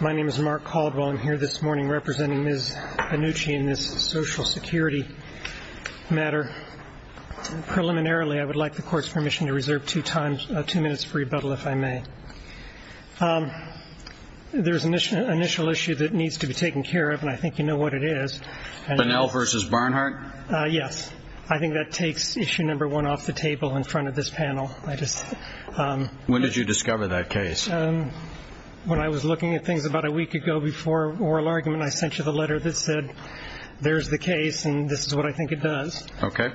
My name is Mark Caldwell. I'm here this morning representing Ms. Banuchi in this social security matter. Preliminarily, I would like the court's permission to reserve two minutes for rebuttal, if I may. There's an initial issue that needs to be taken care of, and I think you know what it is. Bunnell v. Barnhart? Yes. I think that takes issue number one off the table in front of this panel. When did you discover that case? When I was looking at things about a week ago before oral argument, I sent you the letter that said, there's the case and this is what I think it does. Okay.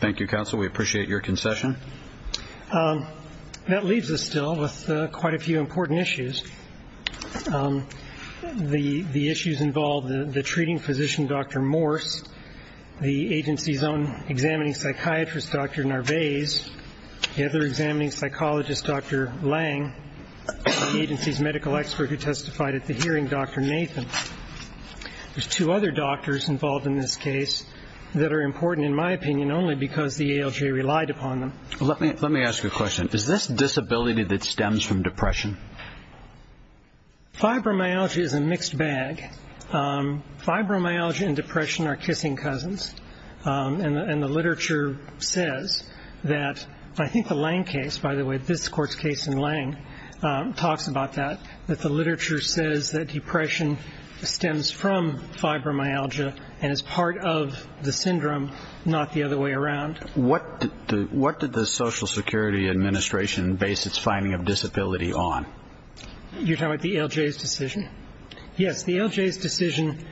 Thank you, counsel. We appreciate your concession. That leaves us still with quite a few important issues. The issues involve the treating physician, Dr. Morse, the agency's own examining psychiatrist, Dr. Narvaez, the other examining psychologist, Dr. Lang, the agency's medical expert who testified at the hearing, Dr. Nathan. There's two other doctors involved in this case that are important, in my opinion, only because the ALJ relied upon them. Let me ask you a question. Is this disability that stems from depression? Fibromyalgia is a mixed bag. Fibromyalgia and depression are kissing cousins, and the literature says that I think the Lang case, by the way, this court's case in Lang talks about that, that the literature says that depression stems from fibromyalgia and is part of the syndrome, not the other way around. What did the Social Security Administration base its finding of disability on? You're talking about the ALJ's decision? Yes, the ALJ's decision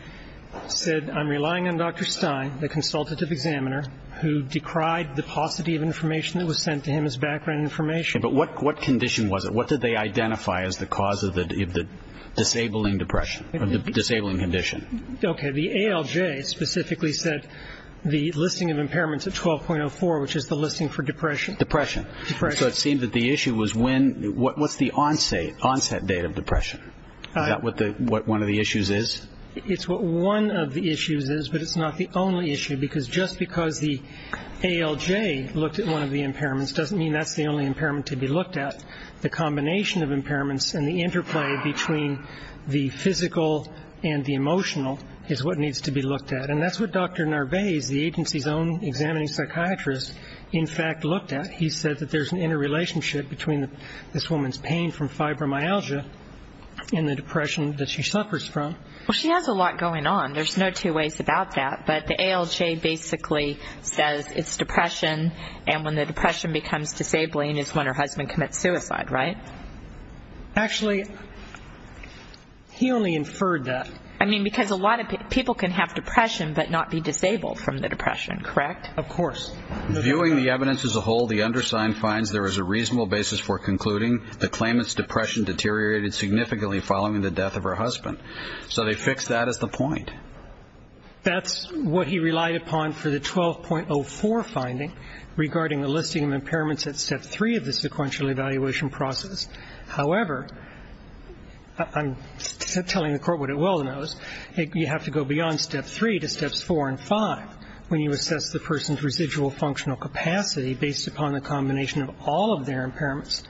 said, I'm relying on Dr. Stein, the consultative examiner, who decried the paucity of information that was sent to him as background information. But what condition was it? What did they identify as the cause of the disabling depression or the disabling condition? Okay, the ALJ specifically said the listing of impairments at 12.04, which is the listing for depression. Depression. Depression. So it seemed that the issue was when, what's the onset date of depression? Is that what one of the issues is? It's what one of the issues is, but it's not the only issue, because just because the ALJ looked at one of the impairments doesn't mean that's the only impairment to be looked at. The combination of impairments and the interplay between the physical and the emotional is what needs to be looked at. And that's what Dr. Narvaez, the agency's own examining psychiatrist, in fact looked at. He said that there's an interrelationship between this woman's pain from fibromyalgia and the depression that she suffers from. Well, she has a lot going on. There's no two ways about that. But the ALJ basically says it's depression, and when the depression becomes disabling is when her husband commits suicide, right? Actually, he only inferred that. I mean, because a lot of people can have depression but not be disabled from the depression, correct? Of course. Viewing the evidence as a whole, the undersigned finds there is a reasonable basis for concluding the claimant's depression deteriorated significantly following the death of her husband. So they fixed that as the point. That's what he relied upon for the 12.04 finding regarding a listing of impairments at step three of the sequential evaluation process. However, I'm telling the Court what it well knows, you have to go beyond step three to steps four and five when you assess the person's residual functional capacity based upon the combination of all of their impairments.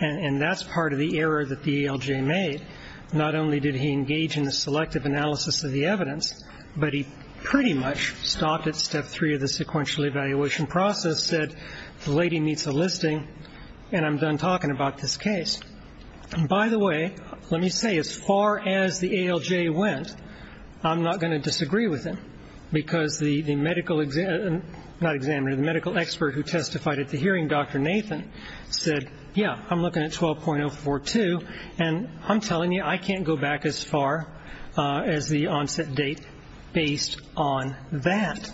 And that's part of the error that the ALJ made. Not only did he engage in the selective analysis of the evidence, but he pretty much stopped at step three of the sequential evaluation process, said the lady meets a listing, and I'm done talking about this case. By the way, let me say as far as the ALJ went, I'm not going to disagree with him, because the medical examiner, not examiner, the medical expert who testified at the hearing, Dr. Nathan, said, yeah, I'm looking at 12.042, and I'm telling you I can't go back as far as the onset date based on that.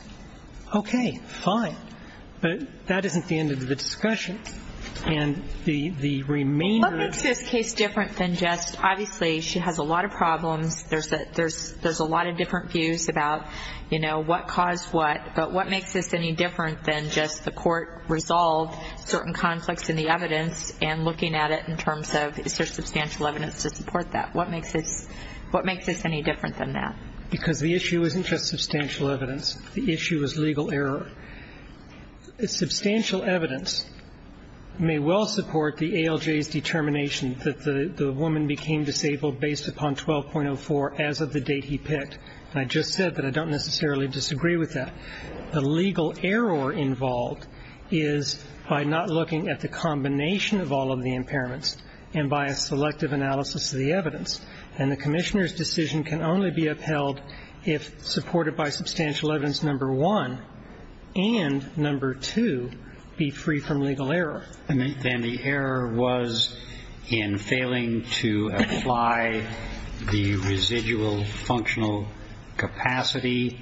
Okay, fine. But that isn't the end of the discussion. What makes this case different than just obviously she has a lot of problems, there's a lot of different views about, you know, what caused what, but what makes this any different than just the court resolved certain conflicts in the evidence and looking at it in terms of is there substantial evidence to support that? What makes this any different than that? Because the issue isn't just substantial evidence. The issue is legal error. Substantial evidence may well support the ALJ's determination that the woman became disabled based upon 12.04 as of the date he picked, and I just said that I don't necessarily disagree with that. The legal error involved is by not looking at the combination of all of the impairments and by a selective analysis of the evidence, and the commissioner's decision can only be upheld if supported by substantial evidence number one and number two be free from legal error. And then the error was in failing to apply the residual functional capacity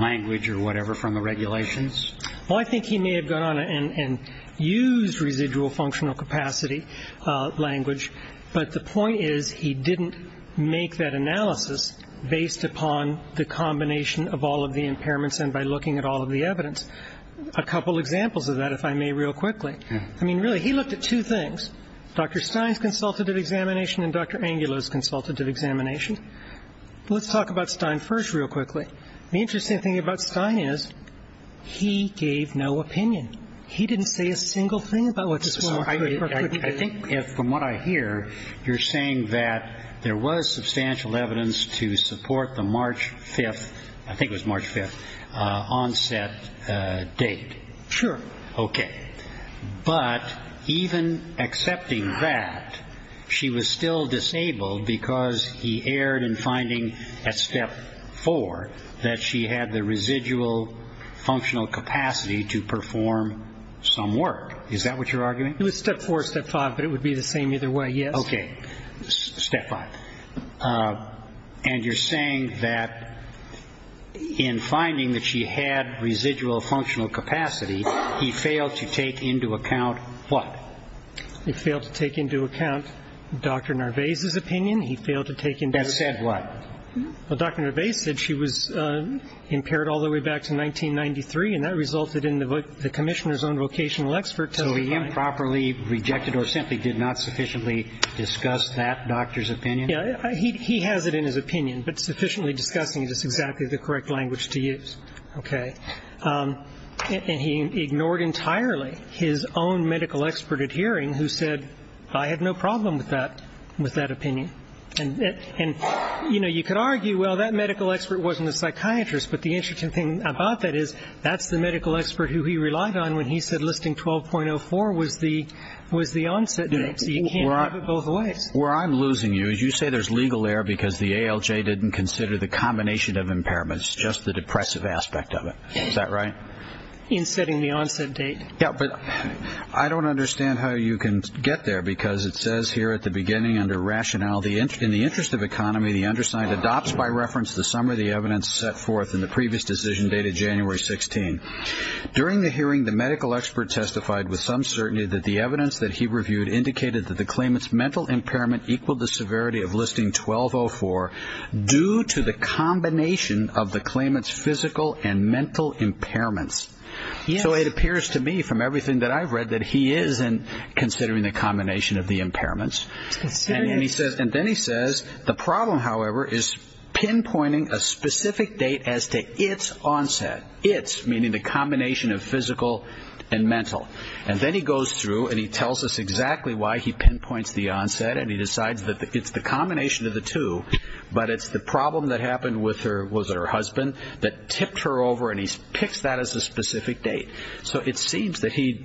language or whatever from the regulations? Well, I think he may have gone on and used residual functional capacity language, but the point is he didn't make that analysis based upon the combination of all of the impairments and by looking at all of the evidence. A couple examples of that, if I may, real quickly. I mean, really, he looked at two things, Dr. Stein's consultative examination and Dr. Angulo's consultative examination. Let's talk about Stein first real quickly. The interesting thing about Stein is he gave no opinion. I think if, from what I hear, you're saying that there was substantial evidence to support the March 5th, I think it was March 5th, onset date. Sure. Okay. But even accepting that, she was still disabled because he erred in finding at step four that she had the residual functional capacity to perform some work. Is that what you're arguing? It was step four or step five, but it would be the same either way, yes. Okay. Step five. And you're saying that in finding that she had residual functional capacity, he failed to take into account what? He failed to take into account Dr. Narvaez's opinion. He failed to take into account – That said what? Well, Dr. Narvaez said she was impaired all the way back to 1993, and that resulted in the commissioner's own vocational expert telling him – So he improperly rejected or simply did not sufficiently discuss that doctor's opinion? Yeah. He has it in his opinion, but sufficiently discussing it is exactly the correct language to use. Okay. And he ignored entirely his own medical expert at hearing who said, I have no problem with that opinion. And, you know, you could argue, well, that medical expert wasn't a psychiatrist, but the interesting thing about that is that's the medical expert who he relied on when he said listing 12.04 was the onset date. So you can't have it both ways. Where I'm losing you is you say there's legal error because the ALJ didn't consider the combination of impairments, just the depressive aspect of it. Is that right? In setting the onset date. Yeah, but I don't understand how you can get there because it says here at the beginning under rationale, in the interest of economy, the undersigned adopts by reference the summary of the evidence set forth in the previous decision dated January 16. During the hearing, the medical expert testified with some certainty that the evidence that he reviewed indicated that the claimant's mental impairment equaled the severity of listing 12.04 due to the combination of the claimant's physical and mental impairments. So it appears to me from everything that I've read that he is considering the combination of the impairments. And then he says the problem, however, is pinpointing a specific date as to its onset, its meaning the combination of physical and mental. And then he goes through and he tells us exactly why he pinpoints the onset and he decides that it's the combination of the two, but it's the problem that happened with her, was it her husband, that tipped her over and he picks that as a specific date. So it seems that he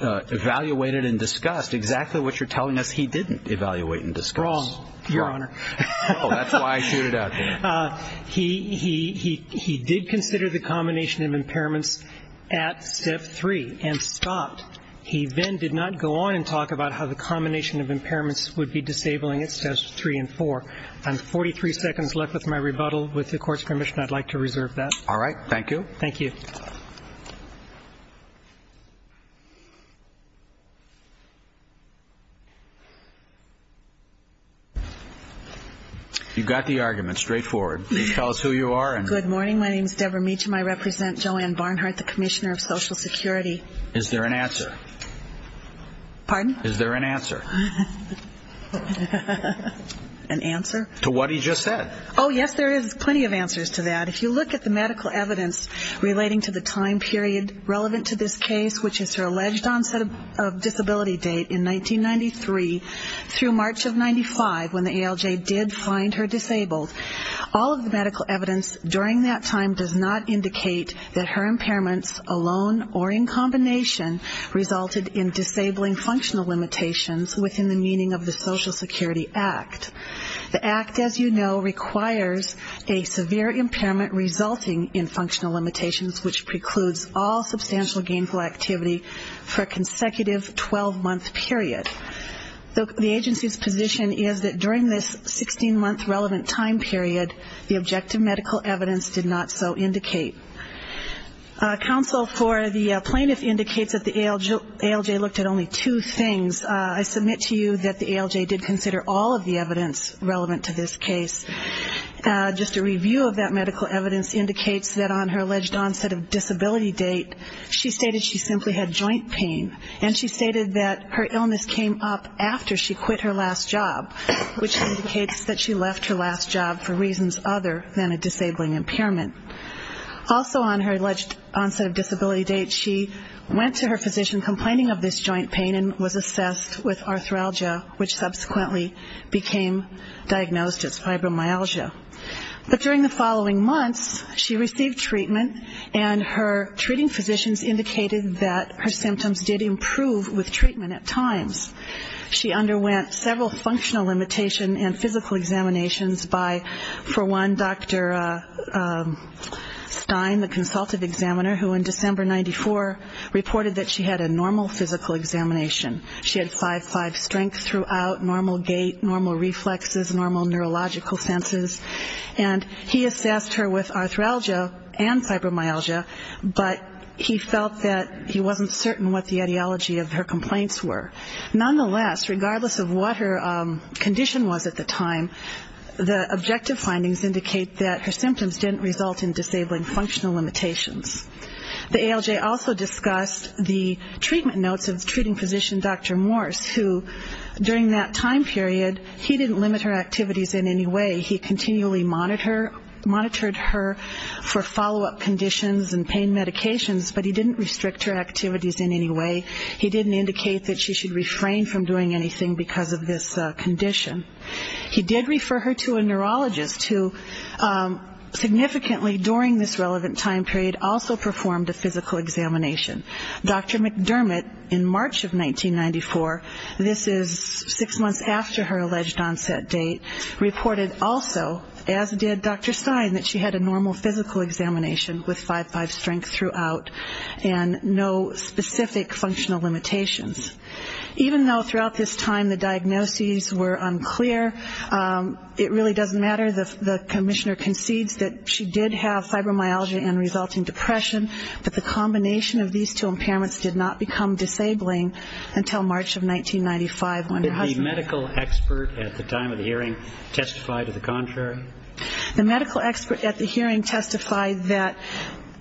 evaluated and discussed exactly what you're telling us he didn't evaluate and discuss. Wrong, Your Honor. Oh, that's why I shoot it out there. He did consider the combination of impairments at Step 3 and stopped. He then did not go on and talk about how the combination of impairments would be disabling at Steps 3 and 4. I'm 43 seconds left with my rebuttal. With the Court's permission, I'd like to reserve that. All right. Thank you. Thank you. You've got the argument, straightforward. Please tell us who you are. Good morning. My name is Deborah Meacham. I represent Joanne Barnhart, the Commissioner of Social Security. Is there an answer? Pardon? Is there an answer? An answer? To what he just said. Oh, yes, there is plenty of answers to that. If you look at the medical evidence relating to the time period relevant to this case, which is her alleged onset of disability date in 1993 through March of 95, when the ALJ did find her disabled, all of the medical evidence during that time does not indicate that her impairments alone or in combination resulted in disabling functional limitations within the meaning of the Social Security Act. The Act, as you know, requires a severe impairment resulting in functional limitations, which precludes all substantial gainful activity for a consecutive 12-month period. The agency's position is that during this 16-month relevant time period, the objective medical evidence did not so indicate. Counsel for the plaintiff indicates that the ALJ looked at only two things. I submit to you that the ALJ did consider all of the evidence relevant to this case. Just a review of that medical evidence indicates that on her alleged onset of disability date, she stated she simply had joint pain, and she stated that her illness came up after she quit her last job, which indicates that she left her last job for reasons other than a disabling impairment. Also on her alleged onset of disability date, she went to her physician complaining of this joint pain and was assessed with arthralgia, which subsequently became diagnosed as fibromyalgia. But during the following months, she received treatment, and her treating physicians indicated that her symptoms did improve with treatment at times. She underwent several functional limitation and physical examinations by, for one, Dr. Stein, the consultative examiner, who in December 1994 reported that she had a normal physical examination. She had 5-5 strength throughout, normal gait, normal reflexes, normal neurological senses. And he assessed her with arthralgia and fibromyalgia, but he felt that he wasn't certain what the ideology of her complaints were. Nonetheless, regardless of what her condition was at the time, the objective findings indicate that her symptoms didn't result in disabling functional limitations. The ALJ also discussed the treatment notes of the treating physician, Dr. Morse, who during that time period, he didn't limit her activities in any way. He continually monitored her for follow-up conditions and pain medications, but he didn't restrict her activities in any way. He didn't indicate that she should refrain from doing anything because of this condition. He did refer her to a neurologist, who significantly during this relevant time period also performed a physical examination. Dr. McDermott, in March of 1994, this is six months after her alleged onset date, reported also, as did Dr. Stein, that she had a normal physical examination with 5-5 strength throughout and no specific functional limitations. Even though throughout this time the diagnoses were unclear, it really doesn't matter. The commissioner concedes that she did have fibromyalgia and resulting depression, but the combination of these two impairments did not become disabling until March of 1995. Did the medical expert at the time of the hearing testify to the contrary? The medical expert at the hearing testified that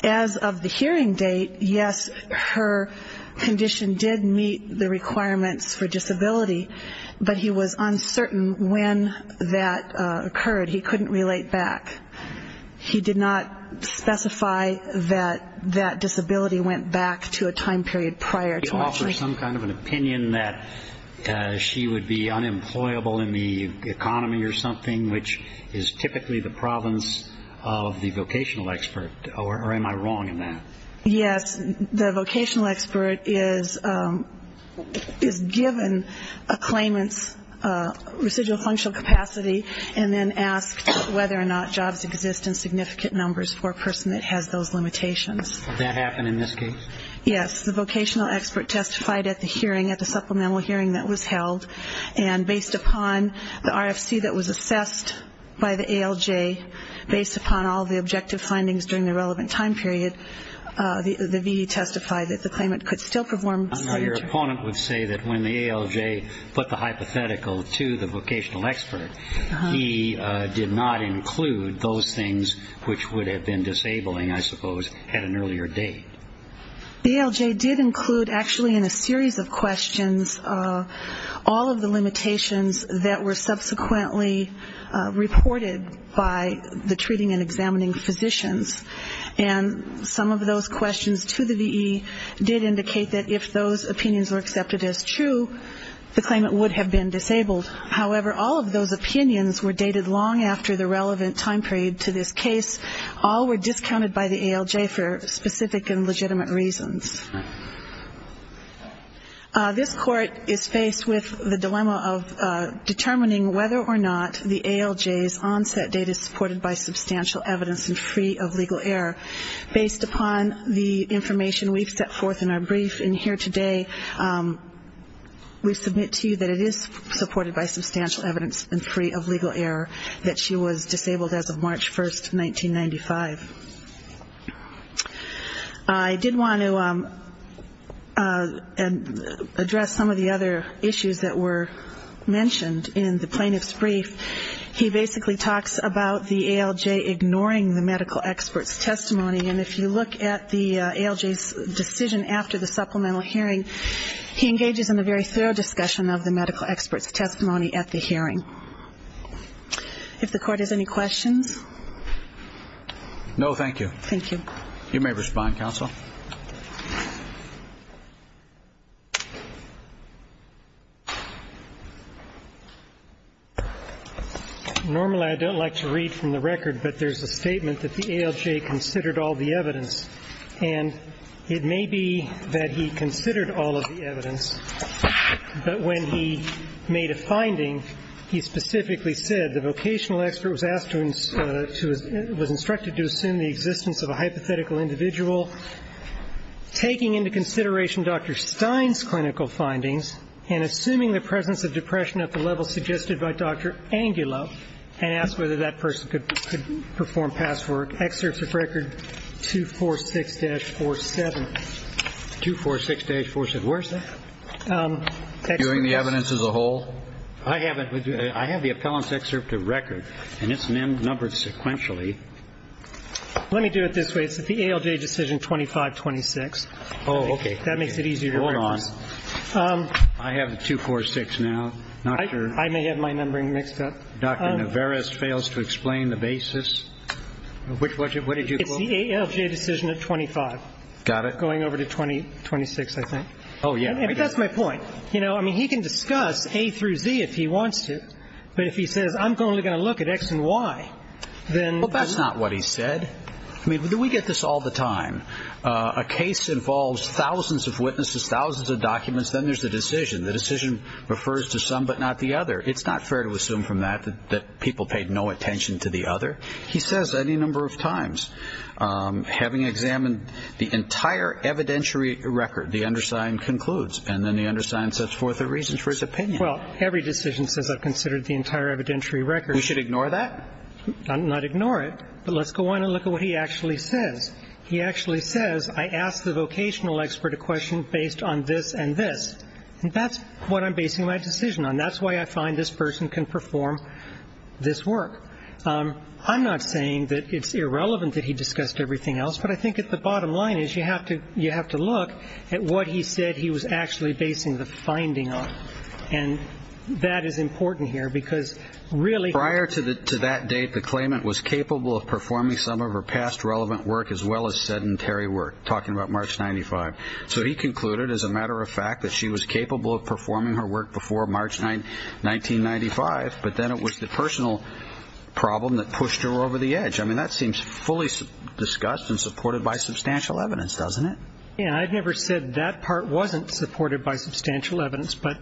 as of the hearing date, yes, her condition did meet the requirements for disability, but he was uncertain when that occurred. He couldn't relate back. He did not specify that that disability went back to a time period prior to March. He offered some kind of an opinion that she would be unemployable in the economy or something, which is typically the province of the vocational expert, or am I wrong in that? Yes. The vocational expert is given a claimant's residual functional capacity and then asked whether or not jobs exist in significant numbers for a person that has those limitations. Did that happen in this case? Yes. The vocational expert testified at the hearing, at the supplemental hearing that was held, and based upon the RFC that was assessed by the ALJ, based upon all the objective findings during the relevant time period, the VE testified that the claimant could still perform. Your opponent would say that when the ALJ put the hypothetical to the vocational expert, he did not include those things which would have been disabling, I suppose, at an earlier date. The ALJ did include, actually, in a series of questions, all of the limitations that were subsequently reported by the treating and examining physicians. And some of those questions to the VE did indicate that if those opinions were accepted as true, the claimant would have been disabled. However, all of those opinions were dated long after the relevant time period to this case. All were discounted by the ALJ for specific and legitimate reasons. This court is faced with the dilemma of determining whether or not the ALJ's onset date is supported by substantial evidence and free of legal error. Based upon the information we've set forth in our brief in here today, we submit to you that it is supported by substantial evidence and free of legal error that she was disabled as of March 1, 1995. I did want to address some of the other issues that were mentioned in the plaintiff's brief. He basically talks about the ALJ ignoring the medical expert's testimony. And if you look at the ALJ's decision after the supplemental hearing, he engages in a very thorough discussion of the medical expert's testimony at the hearing. If the court has any questions. No, thank you. Thank you. You may respond, counsel. Normally I don't like to read from the record, but there's a statement that the ALJ considered all the evidence. And it may be that he considered all of the evidence, but when he made a finding, he specifically said the vocational expert was instructed to assume the existence of a hypothetical individual, taking into consideration Dr. Stein's clinical findings and assuming the presence of depression at the level suggested by Dr. Angulo and asked whether that person could perform past work. Excerpts of record 246-47. 246-47. Where is that? Viewing the evidence as a whole? I have the appellant's excerpt of record, and it's numbered sequentially. Let me do it this way. It's at the ALJ decision 2526. Oh, okay. That makes it easier to read. Hold on. I have the 246 now. I may have my numbering mixed up. Dr. Navarez fails to explain the basis. Which one? What did you quote? It's the ALJ decision at 25. Got it. Going over to 26, I think. Oh, yeah. But that's my point. You know, I mean, he can discuss A through Z if he wants to, but if he says, I'm only going to look at X and Y, then... Well, that's not what he said. I mean, we get this all the time. A case involves thousands of witnesses, thousands of documents, then there's a decision. The decision refers to some but not the other. It's not fair to assume from that that people paid no attention to the other. He says any number of times, having examined the entire evidentiary record, the undersigned concludes, and then the undersigned sets forth a reason for his opinion. Well, every decision says I've considered the entire evidentiary record. We should ignore that? Not ignore it, but let's go on and look at what he actually says. He actually says, I asked the vocational expert a question based on this and this, and that's what I'm basing my decision on. That's why I find this person can perform this work. I'm not saying that it's irrelevant that he discussed everything else, but I think at the bottom line is you have to look at what he said he was actually basing the finding on, and that is important here because really... Prior to that date, the claimant was capable of performing some of her past relevant work as well as sedentary work, talking about March 95. So he concluded, as a matter of fact, that she was capable of performing her work before March 1995, but then it was the personal problem that pushed her over the edge. I mean, that seems fully discussed and supported by substantial evidence, doesn't it? Yeah, and I've never said that part wasn't supported by substantial evidence, but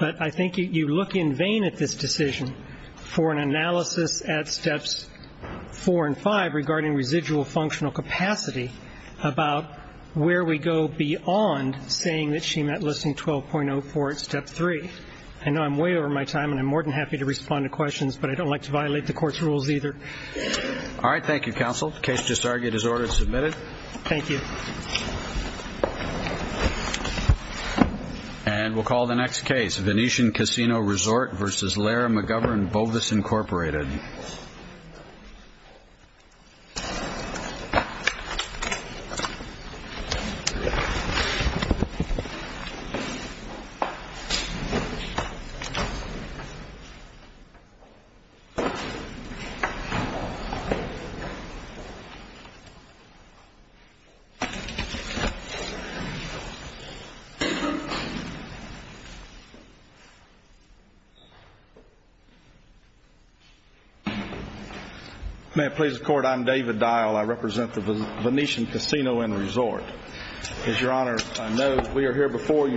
I think you look in vain at this decision for an analysis at Steps 4 and 5 regarding residual functional capacity about where we go beyond saying that she met Listing 12.04 at Step 3. I know I'm way over my time, and I'm more than happy to respond to questions, but I don't like to violate the court's rules either. All right. Thank you, counsel. The case just argued is order submitted. Thank you. And we'll call the next case, Venetian Casino Resort v. Laird McGovern, Bovis Incorporated. May it please the Court, I'm David Dial. I represent the Venetian Casino and Resort. As Your Honor, I know we are here before you based upon the evidence that we have.